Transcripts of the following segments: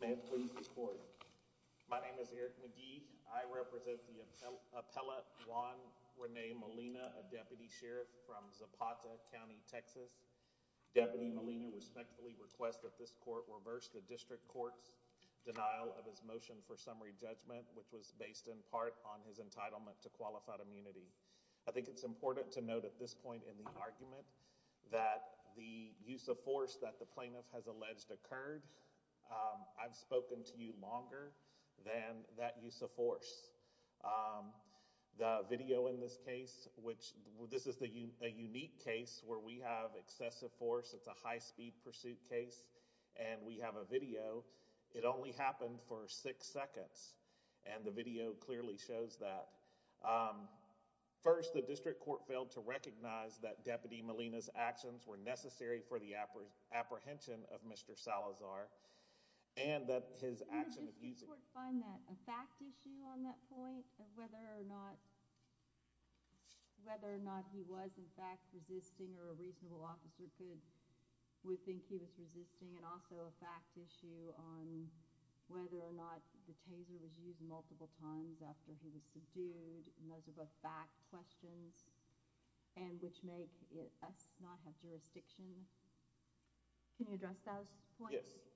May it please the court. My name is Eric McGee. I represent the appellate Juan Rene Molina, a deputy sheriff from Zapata County, Texas. Deputy Molina respectfully requests that this court reverse the district court's denial of his motion for summary judgment, which was based in part on his entitlement to qualified immunity. I think it's important to note at this point in the argument that the use of force that the plaintiff has alleged occurred. I've spoken to you longer than that use of force. The video in this case, which this is a unique case where we have excessive force. It's a high speed pursuit case and we have a video. It only happened for six seconds and the video clearly shows that. First the Molina's actions were necessary for the apprehension of Mr. Salazar and that his action of using Can the court find a fact issue on that point of whether or not he was in fact resisting or a reasonable officer would think he was resisting and also a fact issue on whether or not the taser was used multiple times after he was subdued and those are both fact questions and which make us not have jurisdiction. Can you address those points? Yes.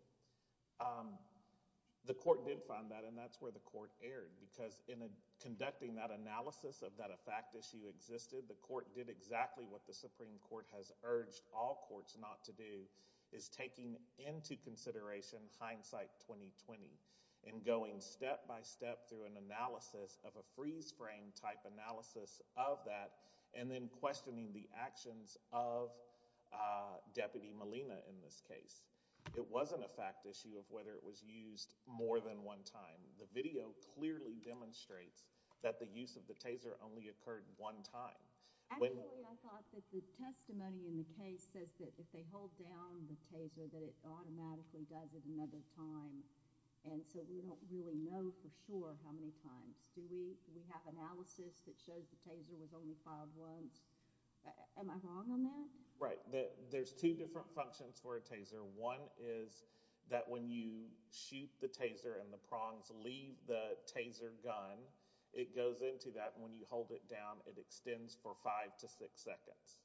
The court did find that and that's where the court erred because in conducting that analysis of that a fact issue existed, the court did exactly what the Supreme Court has urged all courts not to do is taking into consideration hindsight 2020 and going step by step through an analysis of a freeze frame type analysis of that and then questioning the actions of Deputy Molina in this case. It wasn't a fact issue of whether it was used more than one time. The video clearly demonstrates that the use of the taser only occurred one time. Actually I thought that the testimony in the case says that if they hold down the taser that it automatically does it another time and so we don't really know for sure how many times. Do we have analysis that shows the taser was only fired once? Am I wrong on that? Right. There's two different functions for a taser. One is that when you shoot the taser and the prongs leave the taser gun it goes into that and when you hold it down it extends for five to six seconds.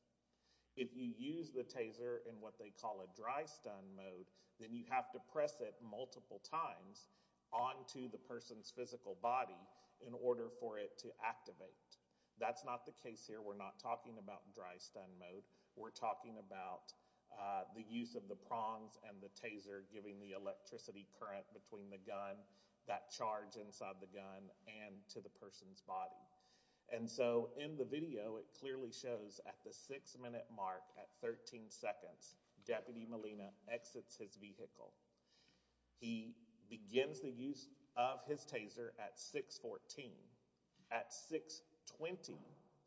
If you use the taser in what they call a dry stun mode then you have to press it multiple times onto the person's physical body in order for it to activate. That's not the case here. We're not talking about dry stun mode. We're talking about the use of the prongs and the taser giving the electricity current between the gun, that charge inside the gun and to the person's body. In the video it clearly shows at the six minute mark at 13 seconds Deputy Molina exits his vehicle. He begins the use of his taser at 614. At 620,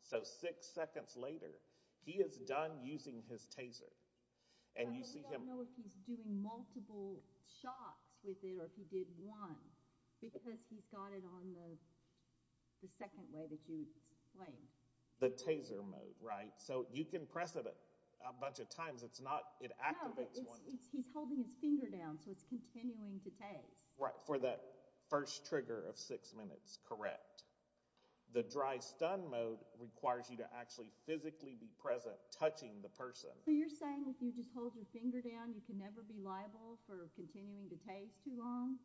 so six seconds later, he is done using his taser. We don't know if he's doing multiple shots with it or if he did one because he's got it on the second way that you explained. The taser mode, right? So you can press it a bunch of times. It activates one. No, he's holding his finger down so it's continuing to tase. Right, for that first trigger of six minutes, correct. The dry stun mode requires you to actually physically be present touching the person. So you're saying if you just hold your finger down you can never be liable for that? That's too long.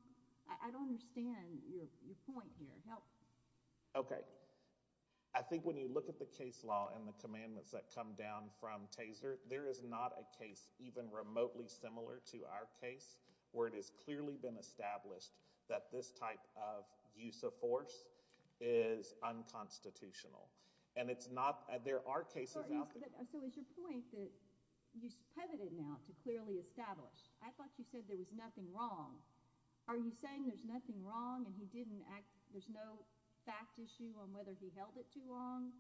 I don't understand your point here. Help. Okay. I think when you look at the case law and the commandments that come down from taser, there is not a case even remotely similar to our case where it has clearly been established that this type of use of force is unconstitutional. And it's not, there are cases out there. So is your point that you pivoted now to clearly establish? I thought you said there was nothing wrong. Are you saying there's nothing wrong and he didn't act, there's no fact issue on whether he held it too long?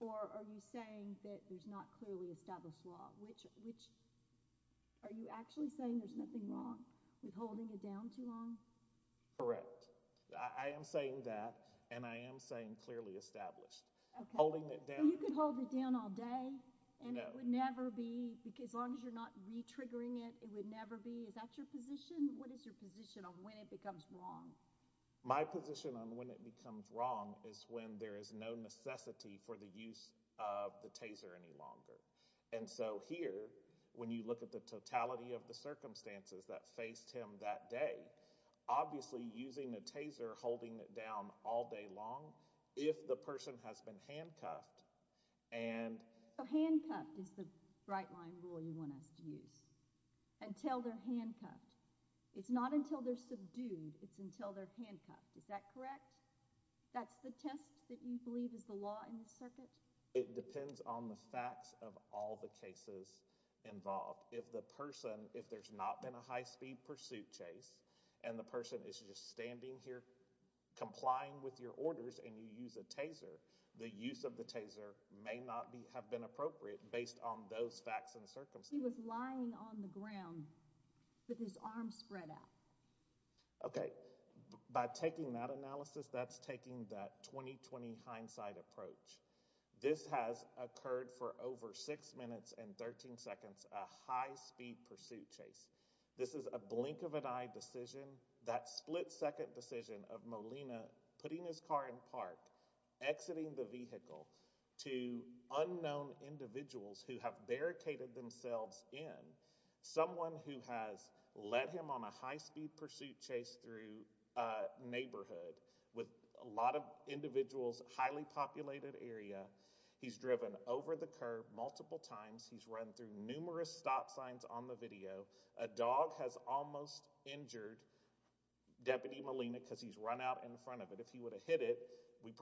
Or are you saying that there's not clearly established law? Which, are you actually saying there's nothing wrong with holding it down too long? Correct. I am saying that and I am saying clearly established. Okay. Holding it down. You could hold it down all day and it would never be, as long as you're not re-triggering it, it would never be. Is that your position? What is your position on when it becomes wrong? My position on when it becomes wrong is when there is no necessity for the use of the taser any longer. And so here, when you look at the totality of the circumstances that faced him that day, obviously using the taser, holding it down all day long, if the person has been handcuffed and... So handcuffed. It's not until they're subdued. It's until they're handcuffed. Is that correct? That's the test that you believe is the law in the circuit? It depends on the facts of all the cases involved. If the person, if there's not been a high-speed pursuit chase and the person is just standing here complying with your orders and you use a taser, the use of the taser may not have been appropriate based on those facts and circumstances. He may have been handcuffed, but his arms spread out. Okay. By taking that analysis, that's taking that 20-20 hindsight approach. This has occurred for over 6 minutes and 13 seconds, a high-speed pursuit chase. This is a blink of an eye decision, that split-second decision of Molina putting his car in park, exiting the vehicle, to unknown individuals who have barricaded themselves in, someone who has let him on a high-speed pursuit chase through a neighborhood with a lot of individuals, highly populated area. He's driven over the curb multiple times. He's run through numerous stop signs on the video. A dog has almost injured Deputy Molina because he's run out in front of it. If he would have hit it, we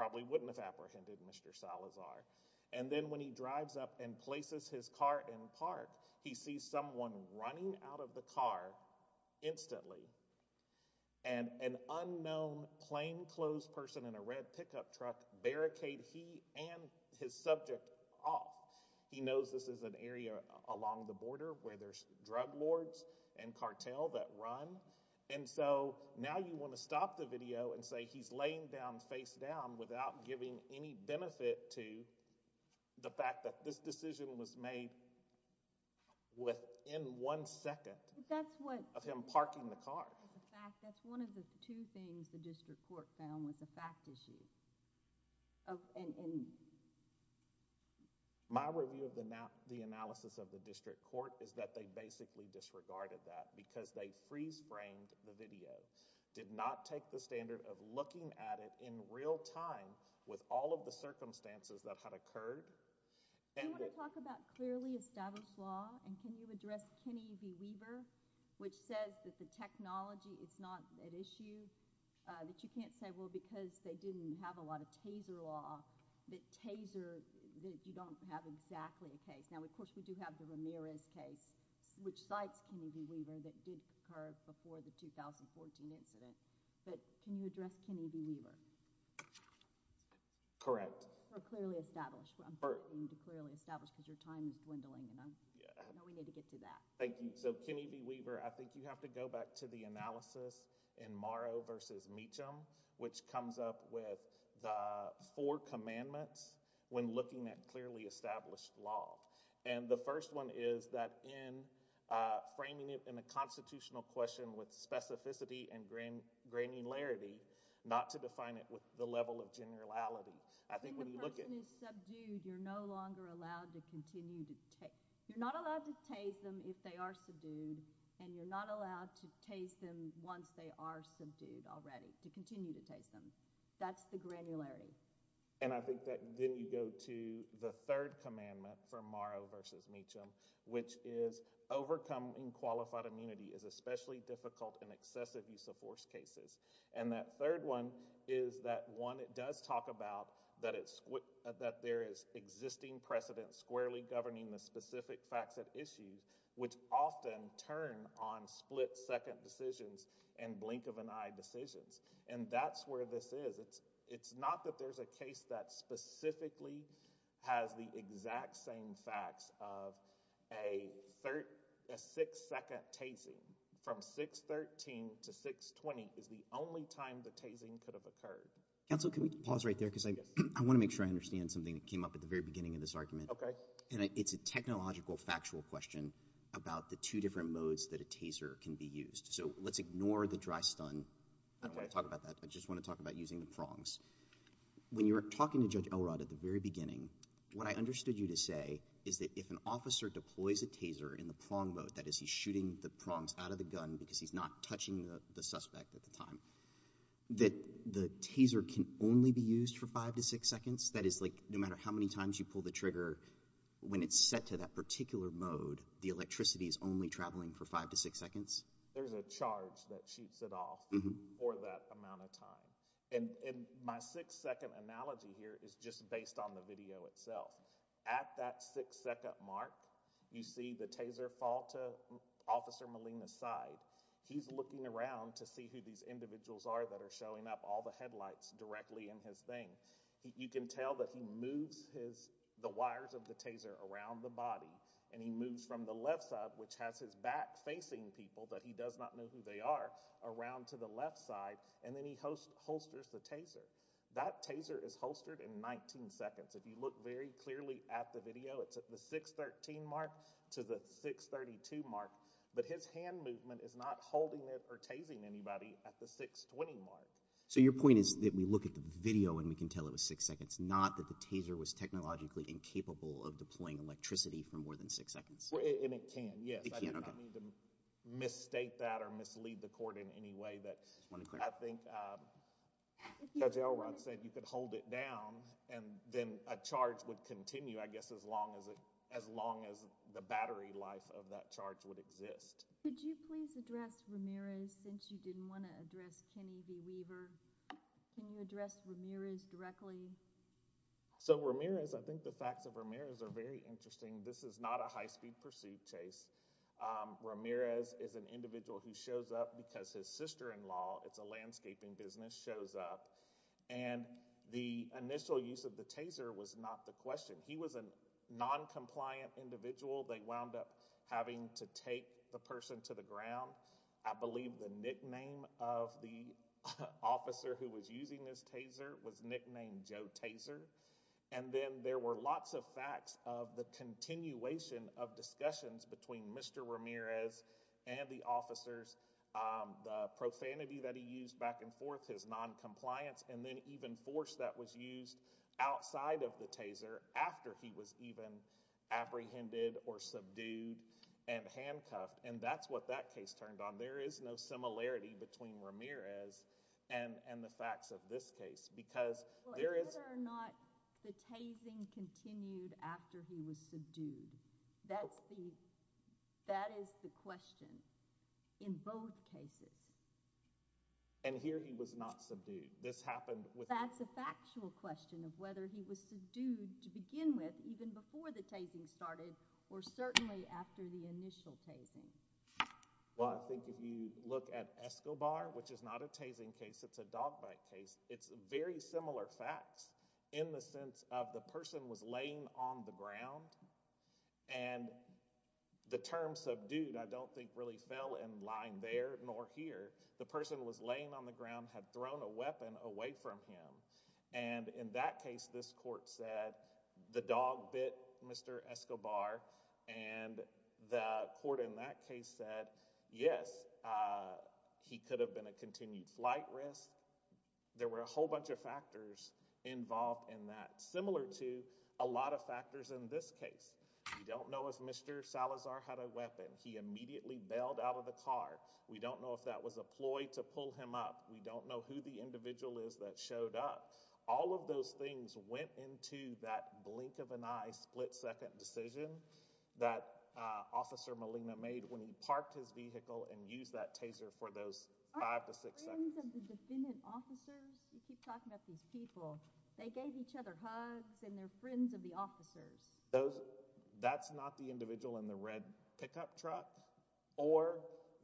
see someone running out of the car instantly and an unknown plainclothes person in a red pickup truck barricade he and his subject off. He knows this is an area along the border where there's drug lords and cartel that run, and so now you want to stop the video and say he's laying down face down without giving any benefit to the fact that this decision was made within one second of him parking the car. My review of the analysis of the district court is that they basically disregarded that because they freeze-framed the video, did not take the standard of looking at it in real time with all of the circumstances that had occurred. Do you want to talk about clearly established law, and can you address Kenny B. Weaver, which says that the technology is not at issue, that you can't say, well, because they didn't have a lot of taser law, that taser, that you don't have exactly a case. Now, of course, we do have the Ramirez case, which cites Kenny B. Weaver that did occur before the 2014 incident, but can you address Kenny B. Weaver? Correct. Or clearly established. I'm hoping to clearly establish because your time is dwindling, and I know we need to get to that. Thank you. So, Kenny B. Weaver, I think you have to go back to the analysis in Morrow v. Meacham, which comes up with the four commandments when looking at clearly established law, and the first one is that in framing it in a constitutional question with specificity and granularity, not to define it with the level of generality. I think when you look at— When the person is subdued, you're no longer allowed to continue to—you're not allowed to tase them if they are subdued, and you're not allowed to tase them once they are subdued already, to continue to tase them. That's the granularity. And I think that then you go to the third commandment from Morrow v. Meacham, which is overcoming qualified immunity is especially difficult in excessive use of force cases. And that third one is that one that does talk about that there is existing precedent squarely governing the specific facts at issue, which often turn on split-second decisions and blink of an eye decisions. And that's where this is. It's not that there's a case that specifically has the exact same facts of a six-second tasing. From 613 to 620 is the only time the tasing could have occurred. Counsel, can we pause right there? Yes. Because I want to make sure I understand something that came up at the very beginning of this argument. Okay. And it's a technological factual question about the two different modes that a taser can be used. So let's ignore the dry stun. I don't want to talk about that. I just want to talk about using the prongs. When you were talking to Judge Elrod at the very beginning, what I understood you to say is that if an officer deploys a taser in the prong mode, that is, he's shooting the prongs out of the gun because he's not touching the suspect at the time, that the taser can only be used for five to six seconds? That is, like, no matter how many times you pull the trigger, when it's set to that particular mode, the There's a charge that shoots it off for that amount of time. And my six-second analogy here is just based on the video itself. At that six-second mark, you see the taser fall to Officer Molina's side. He's looking around to see who these individuals are that are showing up, all the headlights directly in his thing. You can tell that he moves the wires of the taser around the body, and he moves from the left side, which has his back facing people that he does not know who they are, around to the left side, and then he holsters the taser. That taser is holstered in 19 seconds. If you look very clearly at the video, it's at the 613 mark to the 632 mark, but his hand movement is not holding it or tasing anybody at the 620 mark. So your point is that we look at the video and we can tell it was six seconds, not that the taser was technologically incapable of deploying electricity for more than six seconds? And it can, yes. I do not mean to misstate that or mislead the court in any way. I think Judge Elrod said you could hold it down, and then a charge would continue, I guess, as long as the battery life of that charge would exist. Could you please address Ramirez, since you didn't want to address Kenny V. Weaver? Can you address Ramirez directly? So Ramirez, I think the facts of Ramirez are very interesting. This is not a high-speed pursuit, Chase. Ramirez is an individual who shows up because his sister-in-law, it's a landscaping business, shows up, and the initial use of the taser was not the question. He was a noncompliant individual. They wound up having to take the person to the ground. I believe the nickname of the officer who was using this taser was nicknamed Joe Taser. And then there were lots of facts of the continuation of discussions between Mr. Ramirez and the officers, the profanity that he used back and forth, his noncompliance, and then even force that was used outside of the taser after he was even apprehended or subdued and handcuffed. And that's what that case turned on. There is no similarity between Ramirez and the facts of this case, because there is— Well, is it or not the tasing continued after he was subdued? That is the question in both cases. And here he was not subdued. This happened with— That's a factual question of whether he was subdued to begin with, even before the Well, I think if you look at Escobar, which is not a tasing case, it's a dog bite case, it's very similar facts in the sense of the person was laying on the ground. And the term subdued I don't think really fell in line there nor here. The person was laying on the ground, had thrown a weapon away from him. And in that case, this court said the dog bit Mr. Escobar. And the court in that case said, yes, he could have been a continued flight risk. There were a whole bunch of factors involved in that, similar to a lot of factors in this case. We don't know if Mr. Salazar had a weapon. He immediately bailed out of the car. We don't know if that was a ploy to pull him up. We don't know who the individual is that showed up. All of those things went into that blink of an eye, split-second decision that Officer Molina made when he parked his vehicle and used that taser for those five to six seconds. Aren't they friends of the defendant officers? You keep talking about these people. They gave each other hugs, and they're friends of the officers. That's not the individual in the red pickup truck or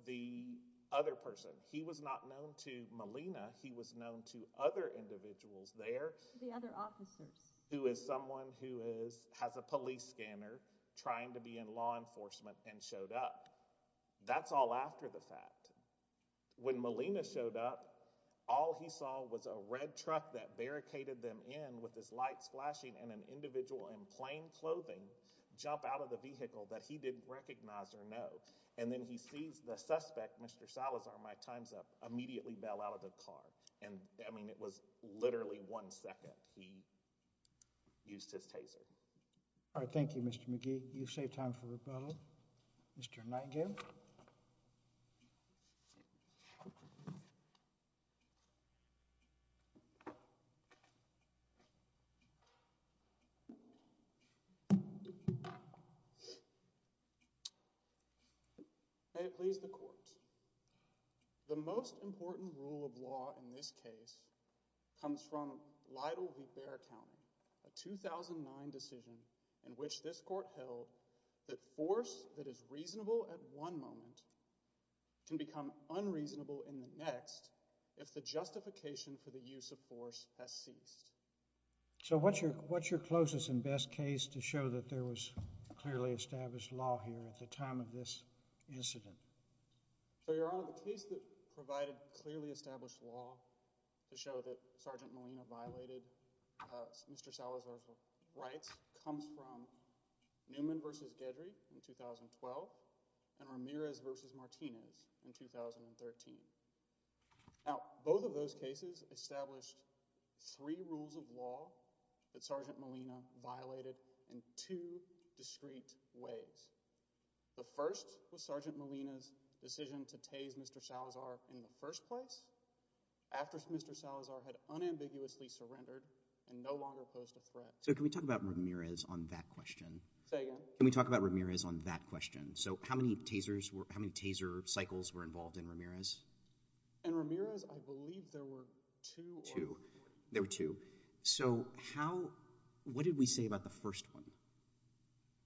the other person. He was not known to Molina. He was known to other individuals there. The other officers. Who is someone who has a police scanner, trying to be in law enforcement, and showed up. That's all after the fact. When Molina showed up, all he saw was a red truck that barricaded them in with its lights flashing and an individual in plain clothing jump out of the vehicle that he didn't recognize or know. Then he sees the suspect, Mr. Salazar, my time's up, immediately bail out of the car. It was literally one second he used his taser. Thank you, Mr. McGee. You saved time for rebuttal. Mr. Nightingale. May it please the court. The most important rule of law in this case comes from Lytle v. Bear County, a 2009 decision in which this court held that force that is reasonable at one moment can become unreasonable in the next if the justification for the use of force has ceased. So what's your closest and best case to show that there was clearly established law here at the time of this incident? Your Honor, the case that provided clearly established law to show that Sergeant Molina violated Mr. Salazar's rights comes from Newman v. Gedry in 2012 and Ramirez v. Martinez in 2013. Now, both of those cases established three rules of law that Sergeant Molina violated in two discreet ways. The first was Sergeant Molina's decision to tase Mr. Salazar in the first place after Mr. Salazar had unambiguously surrendered and no longer posed a threat. So can we talk about Ramirez on that question? Say again? Can we talk about Ramirez on that question? So how many taser cycles were involved in Ramirez? In Ramirez, I believe there were two. There were two. So what did we say about the first one?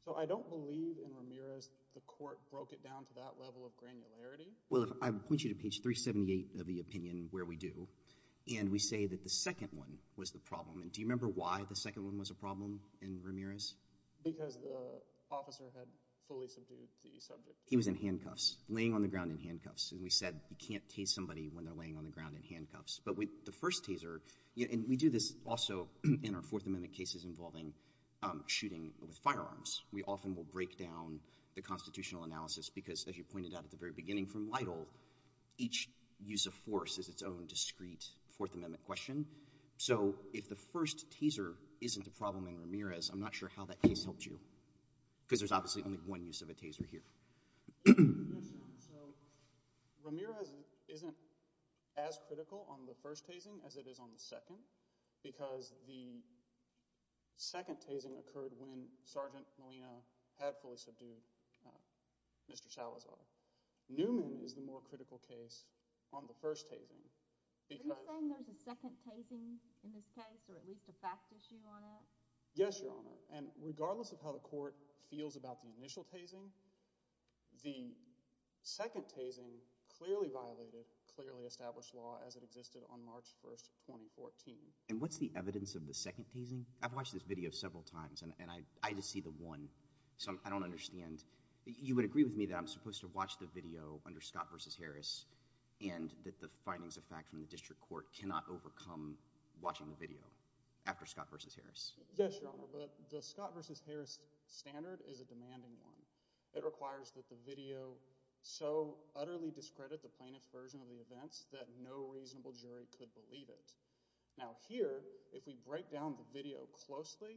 So I don't believe in Ramirez the court broke it down to that level of granularity. Well, I would point you to page 378 of the opinion where we do, and we say that the second one was the problem. And do you remember why the second one was a problem in Ramirez? Because the officer had fully subdued the subject. He was in handcuffs, laying on the ground in handcuffs. And we said you can't tase somebody when they're laying on the ground in handcuffs. But with the first taser, and we do this also in our Fourth Amendment cases involving shooting with firearms. We often will break down the constitutional analysis because, as you pointed out at the very beginning from Lytle, each use of force is its own discreet Fourth Amendment question. So if the first taser isn't a problem in Ramirez, I'm not sure how that case helped you. Because there's obviously only one use of a taser here. Yes, Your Honor. So Ramirez isn't as critical on the first tasing as it is on the second because the second tasing occurred when Sergeant Molina had fully subdued Mr. Salazar. Newman is the more critical case on the first tasing because— Was there an initial tasing in this case or at least a fact issue on it? Yes, Your Honor. And regardless of how the court feels about the initial tasing, the second tasing clearly violated clearly established law as it existed on March 1, 2014. And what's the evidence of the second tasing? I've watched this video several times and I just see the one. So I don't understand. You would agree with me that I'm supposed to watch the video under Scott v. Harris and that the findings of fact from the district court cannot overcome watching the video after Scott v. Harris? Yes, Your Honor, but the Scott v. Harris standard is a demanding one. It requires that the video so utterly discredit the plaintiff's version of the events that no reasonable jury could believe it. Now here, if we break down the video closely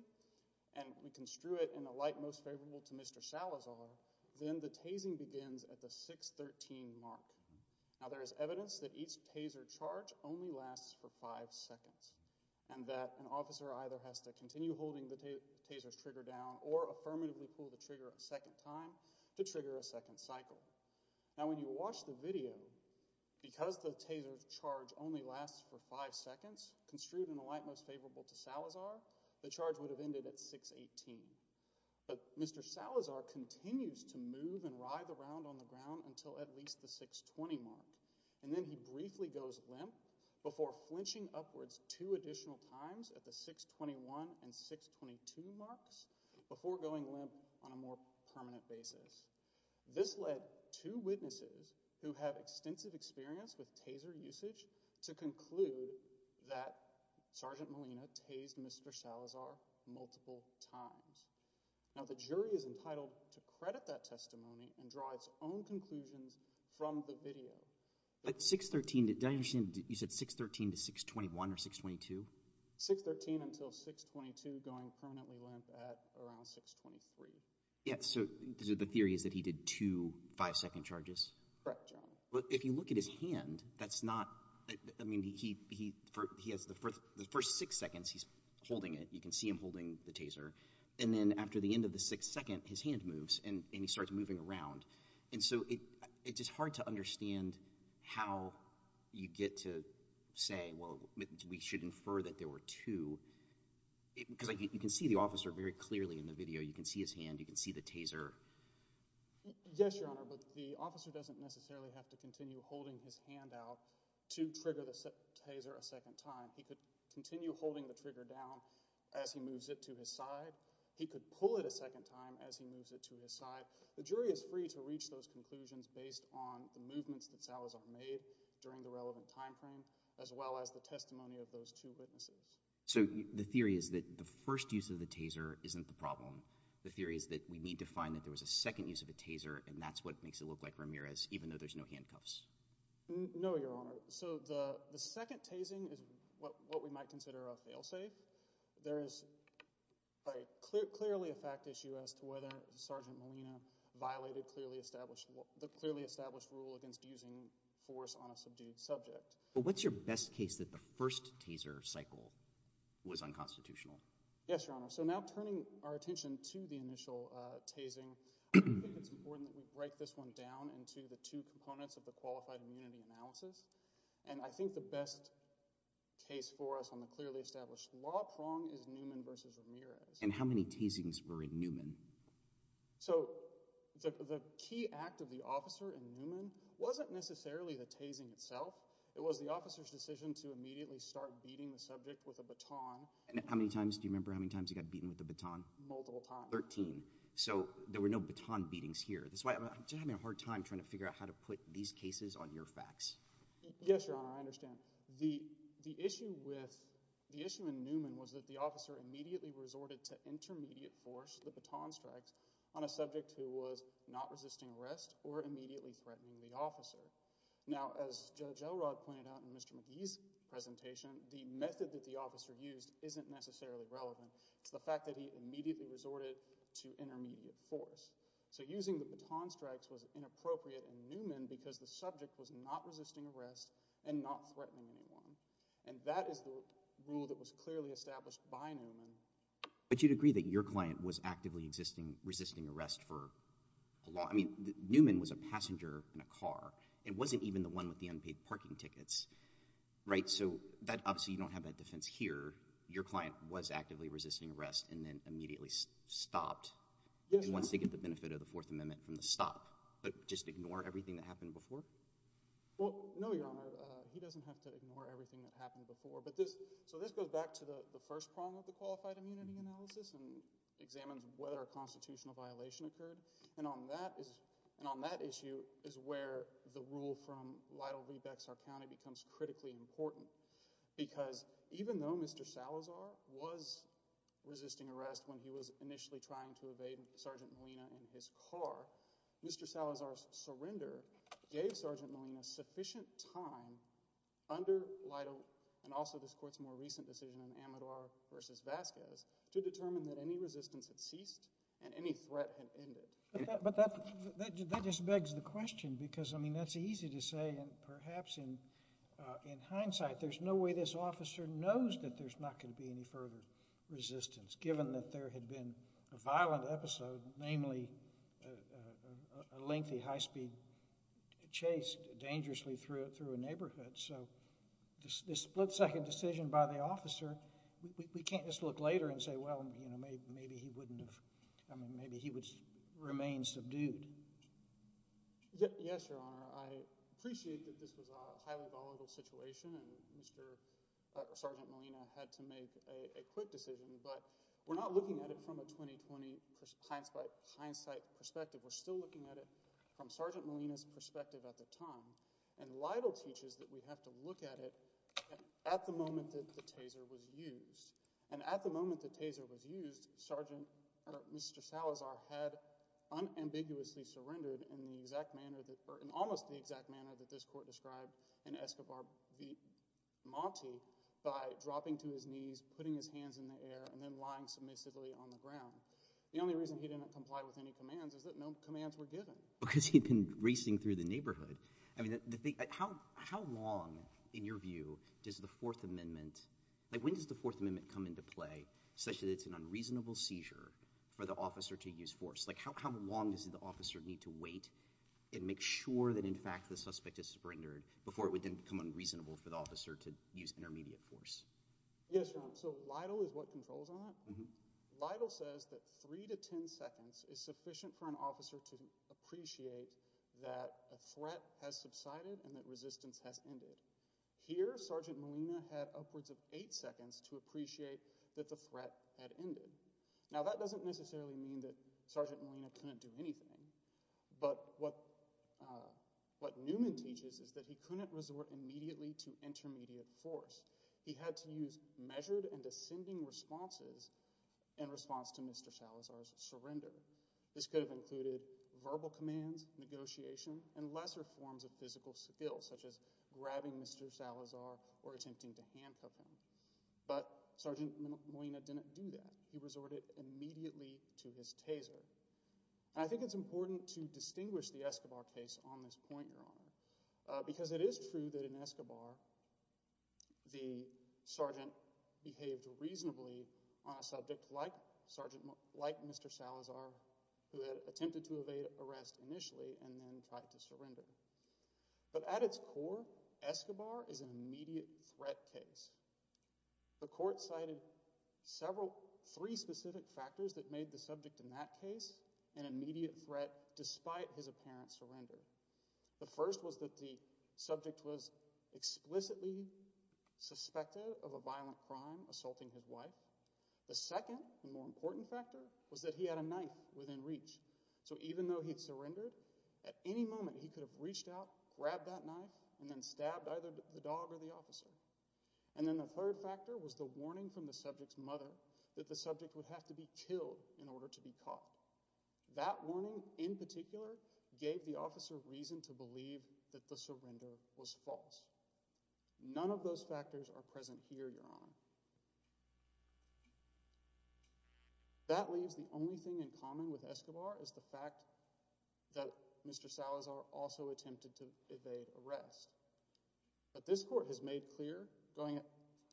and we construe it in a light most favorable to Mr. Salazar, then the tasing begins at the 6-13 mark. Now there is evidence that each taser charge only lasts for five seconds and that an officer either has to continue holding the taser's trigger down or affirmatively pull the trigger a second time to trigger a second cycle. Now when you watch the video, because the taser's charge only lasts for five seconds, construed in a light most favorable to Salazar, the charge would have ended at 6-18. But Mr. Salazar continues to move and writhe around on the ground until at least the 6-20 mark. And then he briefly goes limp before flinching upwards two additional times at the 6-21 and 6-22 marks before going limp on a more permanent basis. This led two witnesses who have extensive experience with taser usage to conclude that Sergeant Molina tased Mr. Salazar multiple times. Now the jury is entitled to credit that testimony and draw its own conclusions from the video. But 6-13, did I understand you said 6-13 to 6-21 or 6-22? 6-13 until 6-22 going permanently limp at around 6-23. Yeah, so the theory is that he did two five-second charges. Correct, Your Honor. But if you look at his hand, that's not – I mean, he has the first six seconds he's holding it. You can see him holding the taser. And then after the end of the sixth second, his hand moves, and he starts moving around. And so it's just hard to understand how you get to say, well, we should infer that there were two. Because you can see the officer very clearly in the video. You can see his hand. You can see the taser. Yes, Your Honor, but the officer doesn't necessarily have to continue holding his hand out to trigger the taser a second time. He could continue holding the trigger down as he moves it to his side. He could pull it a second time as he moves it to his side. The jury is free to reach those conclusions based on the movements that Salazar made during the relevant timeframe as well as the testimony of those two witnesses. So the theory is that the first use of the taser isn't the problem. The theory is that we need to find that there was a second use of a taser, and that's what makes it look like Ramirez, even though there's no handcuffs. No, Your Honor. So the second tasing is what we might consider a failsafe. There is clearly a fact issue as to whether Sergeant Molina violated the clearly established rule against using force on a subdued subject. But what's your best case that the first taser cycle was unconstitutional? Yes, Your Honor, so now turning our attention to the initial tasing, I think it's important that we break this one down into the two components of the qualified immunity analysis. And I think the best case for us on the clearly established law prong is Newman v. Ramirez. And how many tasings were in Newman? So the key act of the officer in Newman wasn't necessarily the tasing itself. It was the officer's decision to immediately start beating the subject with a baton. And how many times – do you remember how many times he got beaten with a baton? Multiple times. Thirteen. So there were no baton beatings here. That's why I'm just having a hard time trying to figure out how to put these cases on your facts. Yes, Your Honor, I understand. The issue with – the issue in Newman was that the officer immediately resorted to intermediate force, the baton strikes, on a subject who was not resisting arrest or immediately threatening the officer. Now, as Judge Elrod pointed out in Mr. McGee's presentation, the method that the officer used isn't necessarily relevant. It's the fact that he immediately resorted to intermediate force. So using the baton strikes was inappropriate in Newman because the subject was not resisting arrest and not threatening anyone. And that is the rule that was clearly established by Newman. But you'd agree that your client was actively resisting arrest for – I mean Newman was a passenger in a car and wasn't even the one with the unpaid parking tickets, right? So obviously you don't have that defense here. Your client was actively resisting arrest and then immediately stopped. He wants to get the benefit of the Fourth Amendment from the stop, but just ignore everything that happened before? Well, no, Your Honor. He doesn't have to ignore everything that happened before. But this – so this goes back to the first problem of the qualified immunity analysis and examines whether a constitutional violation occurred. And on that issue is where the rule from Lytle v. Bexar County becomes critically important. Because even though Mr. Salazar was resisting arrest when he was initially trying to evade Sergeant Molina in his car, Mr. Salazar's surrender gave Sergeant Molina sufficient time under Lytle and also this court's more recent decision in Amador v. Vasquez to determine that any resistance had ceased and any threat had ended. But that just begs the question because, I mean, that's easy to say and perhaps in hindsight, there's no way this officer knows that there's not going to be any further resistance given that there had been a violent episode, namely a lengthy high-speed chase dangerously through a neighborhood. So this split-second decision by the officer, we can't just look later and say, well, you know, maybe he wouldn't have – I mean, maybe he would remain subdued. Yes, Your Honor. I appreciate that this was a highly volatile situation and Mr. – Sergeant Molina had to make a quick decision. But we're not looking at it from a 2020 hindsight perspective. We're still looking at it from Sergeant Molina's perspective at the time. And Lytle teaches that we have to look at it at the moment that the taser was used. And at the moment the taser was used, Sergeant – or Mr. Salazar had unambiguously surrendered in the exact manner that – or in almost the exact manner that this court described in Escobar v. Monti by dropping to his knees, putting his hands in the air, and then lying submissively on the ground. The only reason he didn't comply with any commands is that no commands were given. Because he'd been racing through the neighborhood. I mean, the thing – how long, in your view, does the Fourth Amendment – like when does the Fourth Amendment come into play such that it's an unreasonable seizure for the officer to use force? Like how long does the officer need to wait and make sure that, in fact, the suspect has surrendered before it would then become unreasonable for the officer to use intermediate force? Yes, Your Honor. So Lytle is what controls on it? Lytle says that three to ten seconds is sufficient for an officer to appreciate that a threat has subsided and that resistance has ended. Here Sergeant Molina had upwards of eight seconds to appreciate that the threat had ended. Now that doesn't necessarily mean that Sergeant Molina couldn't do anything. But what Newman teaches is that he couldn't resort immediately to intermediate force. In fact, he had to use measured and ascending responses in response to Mr. Salazar's surrender. This could have included verbal commands, negotiation, and lesser forms of physical skill, such as grabbing Mr. Salazar or attempting to handcuff him. But Sergeant Molina didn't do that. He resorted immediately to his taser. I think it's important to distinguish the Escobar case on this point, Your Honor, because it is true that in Escobar the sergeant behaved reasonably on a subject like Mr. Salazar, who had attempted to evade arrest initially and then tried to surrender. But at its core, Escobar is an immediate threat case. The court cited three specific factors that made the subject in that case an immediate threat despite his apparent surrender. The first was that the subject was explicitly suspected of a violent crime, assaulting his wife. The second and more important factor was that he had a knife within reach. So even though he had surrendered, at any moment he could have reached out, grabbed that knife, and then stabbed either the dog or the officer. And then the third factor was the warning from the subject's mother that the subject would have to be killed in order to be caught. That warning in particular gave the officer reason to believe that the surrender was false. None of those factors are present here, Your Honor. That leaves the only thing in common with Escobar is the fact that Mr. Salazar also attempted to evade arrest. But this court has made clear, going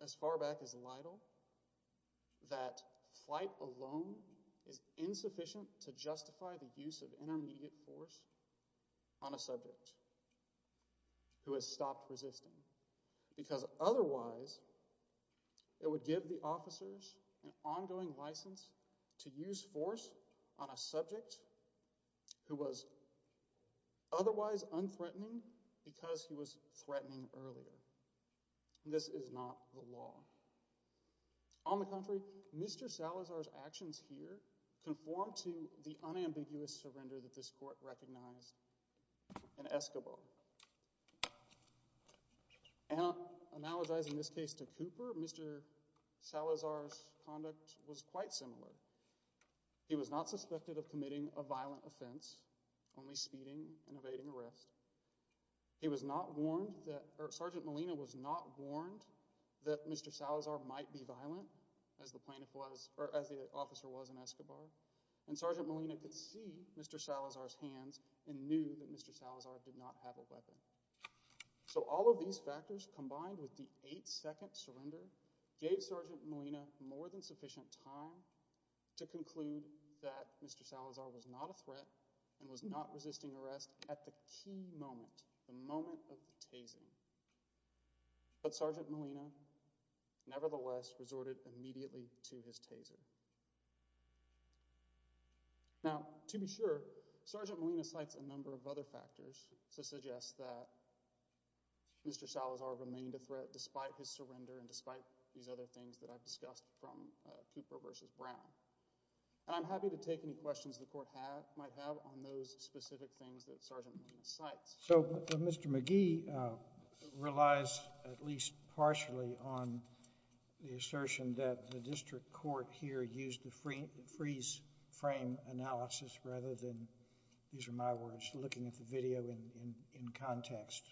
as far back as Lytle, that flight alone is insufficient to justify the use of intermediate force on a subject who has stopped resisting. Because otherwise, it would give the officers an ongoing license to use force on a subject who was otherwise unthreatening because he was threatening earlier. This is not the law. On the contrary, Mr. Salazar's actions here conform to the unambiguous surrender that this court recognized in Escobar. Analogizing this case to Cooper, Mr. Salazar's conduct was quite similar. He was not suspected of committing a violent offense, only speeding and evading arrest. Sergeant Molina was not warned that Mr. Salazar might be violent, as the officer was in Escobar. And Sergeant Molina could see Mr. Salazar's hands and knew that Mr. Salazar did not have a weapon. So all of these factors, combined with the eight-second surrender, gave Sergeant Molina more than sufficient time to conclude that Mr. Salazar was not a threat and was not resisting arrest at the key moment, the moment of the taser. But Sergeant Molina nevertheless resorted immediately to his taser. Now, to be sure, Sergeant Molina cites a number of other factors to suggest that Mr. Salazar remained a threat despite his surrender and despite these other things that I've discussed from Cooper v. Brown. And I'm happy to take any questions the court might have on those specific things that Sergeant Molina cites. So Mr. McGee relies at least partially on the assertion that the district court here used the freeze frame analysis rather than, these are my words, looking at the video in context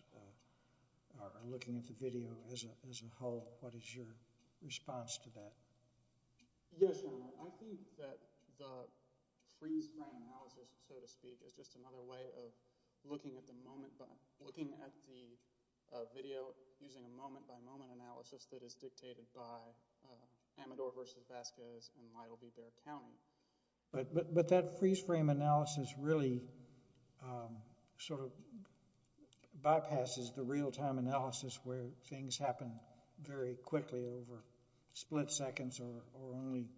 or looking at the video as a whole. What is your response to that? Yes, Your Honor. I think that the freeze frame analysis, so to speak, is just another way of looking at the video using a moment-by-moment analysis that is dictated by Amador v. Vasquez and Lyell B. Bear County. But that freeze frame analysis really sort of bypasses the real-time analysis where things happen very quickly over split seconds or only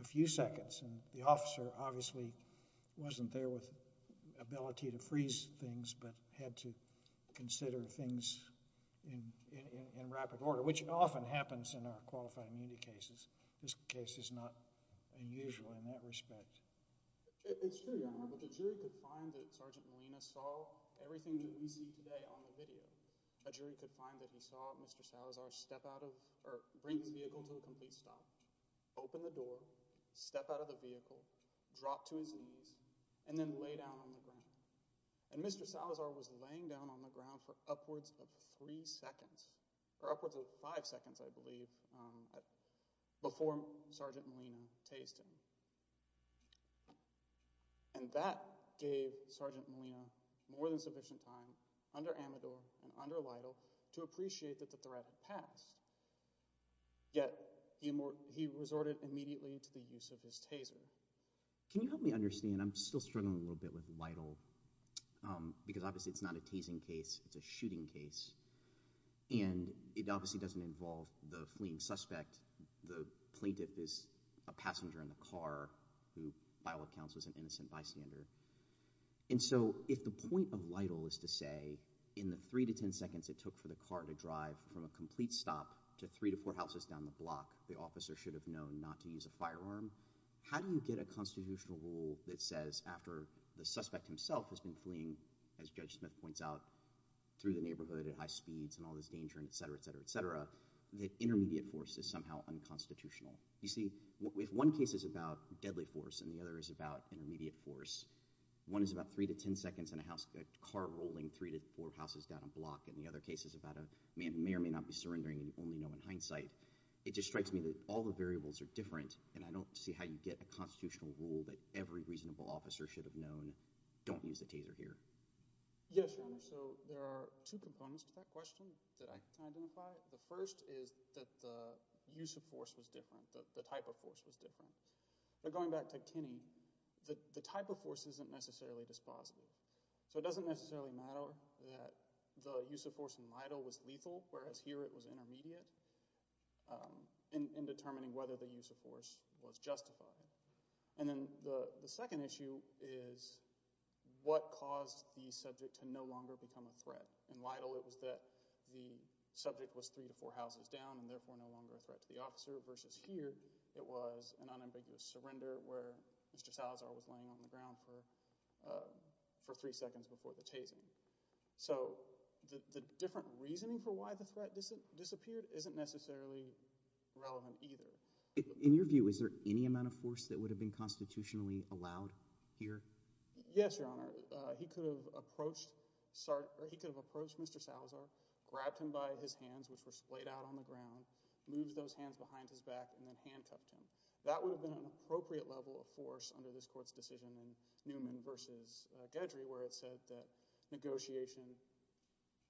a few seconds. And the officer obviously wasn't there with ability to freeze things but had to consider things in rapid order, which often happens in our qualified immunity cases. This case is not unusual in that respect. It's true, Your Honor, but the jury could find that Sergeant Molina saw everything that we see today on the video. A jury could find that he saw Mr. Salazar bring his vehicle to a complete stop, open the door, step out of the vehicle, drop to his knees, and then lay down on the ground. And Mr. Salazar was laying down on the ground for upwards of five seconds, I believe, before Sergeant Molina tased him. And that gave Sergeant Molina more than sufficient time under Amador and under Lytle to appreciate that the threat had passed. Yet he resorted immediately to the use of his taser. So can you help me understand? I'm still struggling a little bit with Lytle because obviously it's not a tasing case. It's a shooting case, and it obviously doesn't involve the fleeing suspect. The plaintiff is a passenger in the car who, by all accounts, was an innocent bystander. And so if the point of Lytle is to say in the three to ten seconds it took for the car to drive from a complete stop to three to four houses down the block, the officer should have known not to use a firearm, how do you get a constitutional rule that says after the suspect himself has been fleeing, as Judge Smith points out, through the neighborhood at high speeds and all this danger, et cetera, et cetera, et cetera, that intermediate force is somehow unconstitutional? You see, if one case is about deadly force and the other is about intermediate force, one is about three to ten seconds in a car rolling three to four houses down a block, and the other case is about a man who may or may not be surrendering and you only know in hindsight, it just strikes me that all the variables are different, and I don't see how you get a constitutional rule that every reasonable officer should have known don't use a taser here. Yes, Your Honor, so there are two components to that question that I can identify. The first is that the use of force was different, the type of force was different. But going back to Kenny, the type of force isn't necessarily dispositive. So it doesn't necessarily matter that the use of force in Lytle was lethal, whereas here it was intermediate in determining whether the use of force was justified. And then the second issue is what caused the subject to no longer become a threat. In Lytle it was that the subject was three to four houses down and therefore no longer a threat to the officer versus here it was an unambiguous surrender where Mr. Salazar was laying on the ground for three seconds before the taser. So the different reasoning for why the threat disappeared isn't necessarily relevant either. In your view, is there any amount of force that would have been constitutionally allowed here? Yes, Your Honor. He could have approached Mr. Salazar, grabbed him by his hands, which were splayed out on the ground, moved those hands behind his back, and then handcuffed him. That would have been an appropriate level of force under this Court's decision in Newman v. Gedry where it said that negotiation,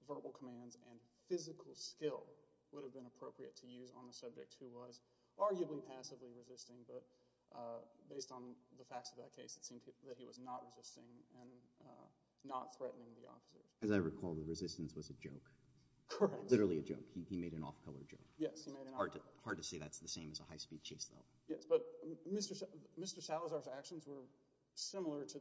verbal commands, and physical skill would have been appropriate to use on the subject who was arguably passively resisting, but based on the facts of that case it seemed that he was not resisting and not threatening the officer. As I recall, the resistance was a joke. Correct. It was literally a joke. He made an off-color joke. Yes, he made an off-color joke. It's hard to say that's the same as a high-speed chase, though. Yes, but Mr. Salazar's actions were similar to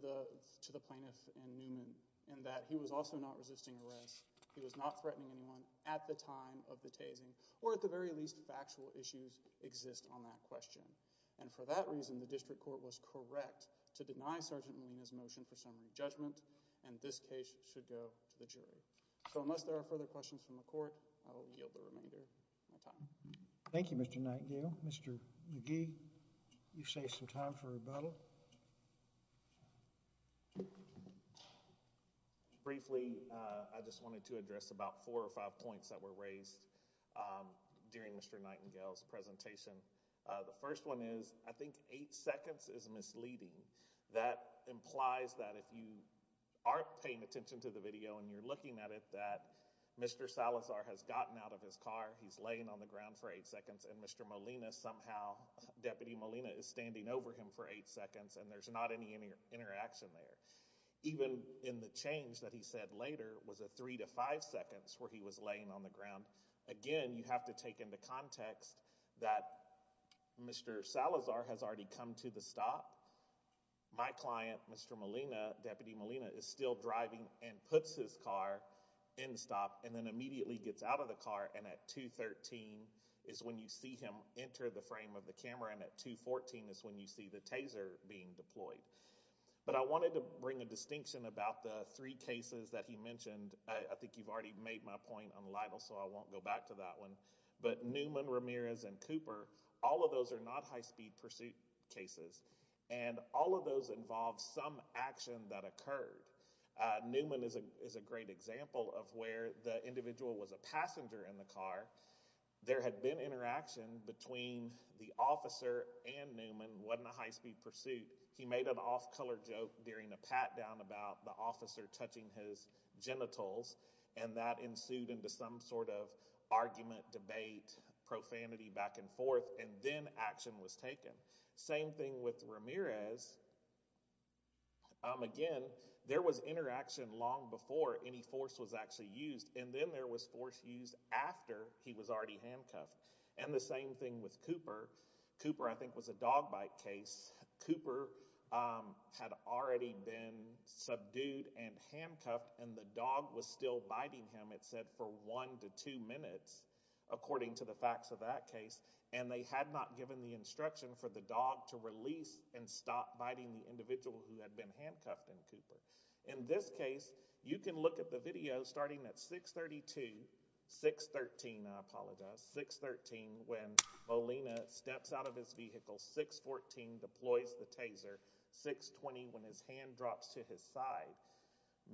the plaintiff in Newman in that he was also not resisting arrest. He was not threatening anyone at the time of the tasing, or at the very least factual issues exist on that question. And for that reason, the district court was correct to deny Sergeant Molina's motion for summary judgment, and this case should go to the jury. So unless there are further questions from the Court, I will yield the remainder of my time. Thank you, Mr. Nightingale. Mr. McGee, you save some time for rebuttal. Briefly, I just wanted to address about four or five points that were raised during Mr. Nightingale's presentation. The first one is I think eight seconds is misleading. That implies that if you aren't paying attention to the video and you're looking at it, that Mr. Salazar has gotten out of his car, he's laying on the ground for eight seconds, and Mr. Molina somehow, Deputy Molina, is standing over him for eight seconds, and there's not any interaction there. Even in the change that he said later was a three to five seconds where he was laying on the ground. Again, you have to take into context that Mr. Salazar has already come to the stop. My client, Mr. Molina, Deputy Molina, is still driving and puts his car in the stop and then immediately gets out of the car, and at 2.13 is when you see him enter the frame of the camera, and at 2.14 is when you see the taser being deployed. But I wanted to bring a distinction about the three cases that he mentioned. I think you've already made my point on Lytle, so I won't go back to that one. But Newman, Ramirez, and Cooper, all of those are not high-speed pursuit cases, and all of those involve some action that occurred. Newman is a great example of where the individual was a passenger in the car. There had been interaction between the officer and Newman. It wasn't a high-speed pursuit. He made an off-color joke during a pat-down about the officer touching his genitals, and that ensued into some sort of argument, debate, profanity back and forth, and then action was taken. Same thing with Ramirez. Again, there was interaction long before any force was actually used, and then there was force used after he was already handcuffed. And the same thing with Cooper. Cooper, I think, was a dog bite case. Cooper had already been subdued and handcuffed, and the dog was still biting him, it said, for one to two minutes, according to the facts of that case, and they had not given the instruction for the dog to release and stop biting the individual who had been handcuffed in Cooper. In this case, you can look at the video starting at 6.32, 6.13, I apologize, 6.13, when Molina steps out of his vehicle, 6.14, deploys the taser, 6.20, when his hand drops to his side.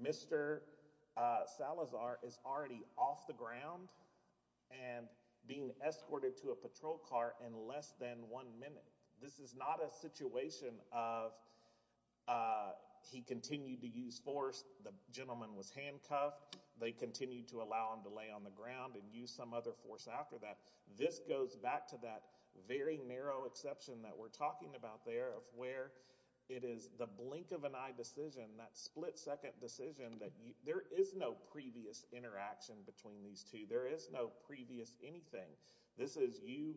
Mr. Salazar is already off the ground and being escorted to a patrol car in less than one minute. This is not a situation of he continued to use force, the gentleman was handcuffed, they continued to allow him to lay on the ground and use some other force after that. This goes back to that very narrow exception that we're talking about there, of where it is the blink of an eye decision, that split-second decision, that there is no previous interaction between these two, there is no previous anything. This is you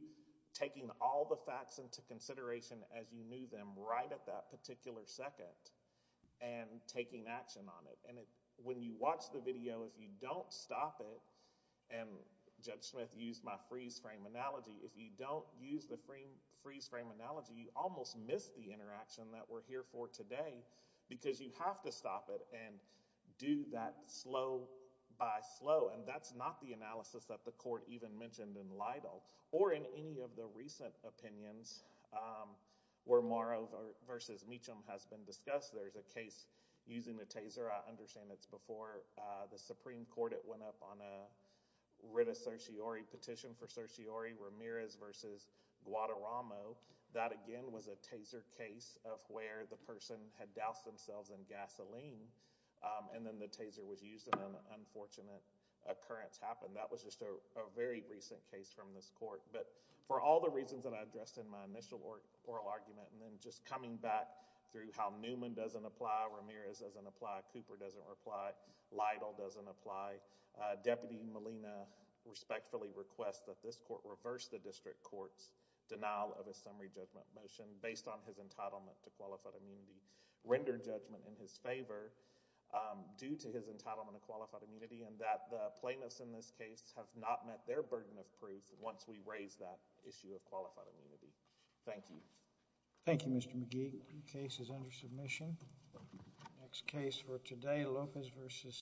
taking all the facts into consideration as you knew them, right at that particular second, and taking action on it. When you watch the video, if you don't stop it, and Judge Smith used my freeze-frame analogy, if you don't use the freeze-frame analogy, you almost miss the interaction that we're here for today, because you have to stop it and do that slow by slow, and that's not the analysis that the court even mentioned in Lidle, or in any of the recent opinions where Morrow versus Meacham has been discussed. There's a case using the taser. I understand it's before the Supreme Court. It went up on a writ of certiorari petition for certiorari, Ramirez versus Guadarramo. That, again, was a taser case of where the person had doused themselves in gasoline, and then the taser was used, and an unfortunate occurrence happened. That was just a very recent case from this court. But for all the reasons that I addressed in my initial oral argument, and then just coming back through how Newman doesn't apply, Ramirez doesn't apply, Cooper doesn't reply, Lidle doesn't apply, Deputy Molina respectfully requests that this court reverse the district court's denial of a summary judgment motion based on his entitlement to qualified immunity, render judgment in his favor due to his entitlement to qualified immunity, and that the plaintiffs in this case have not met their burden of proof once we raise that issue of qualified immunity. Thank you. Thank you, Mr. McGee. The case is under submission. The next case for today, Lopez versus Steele.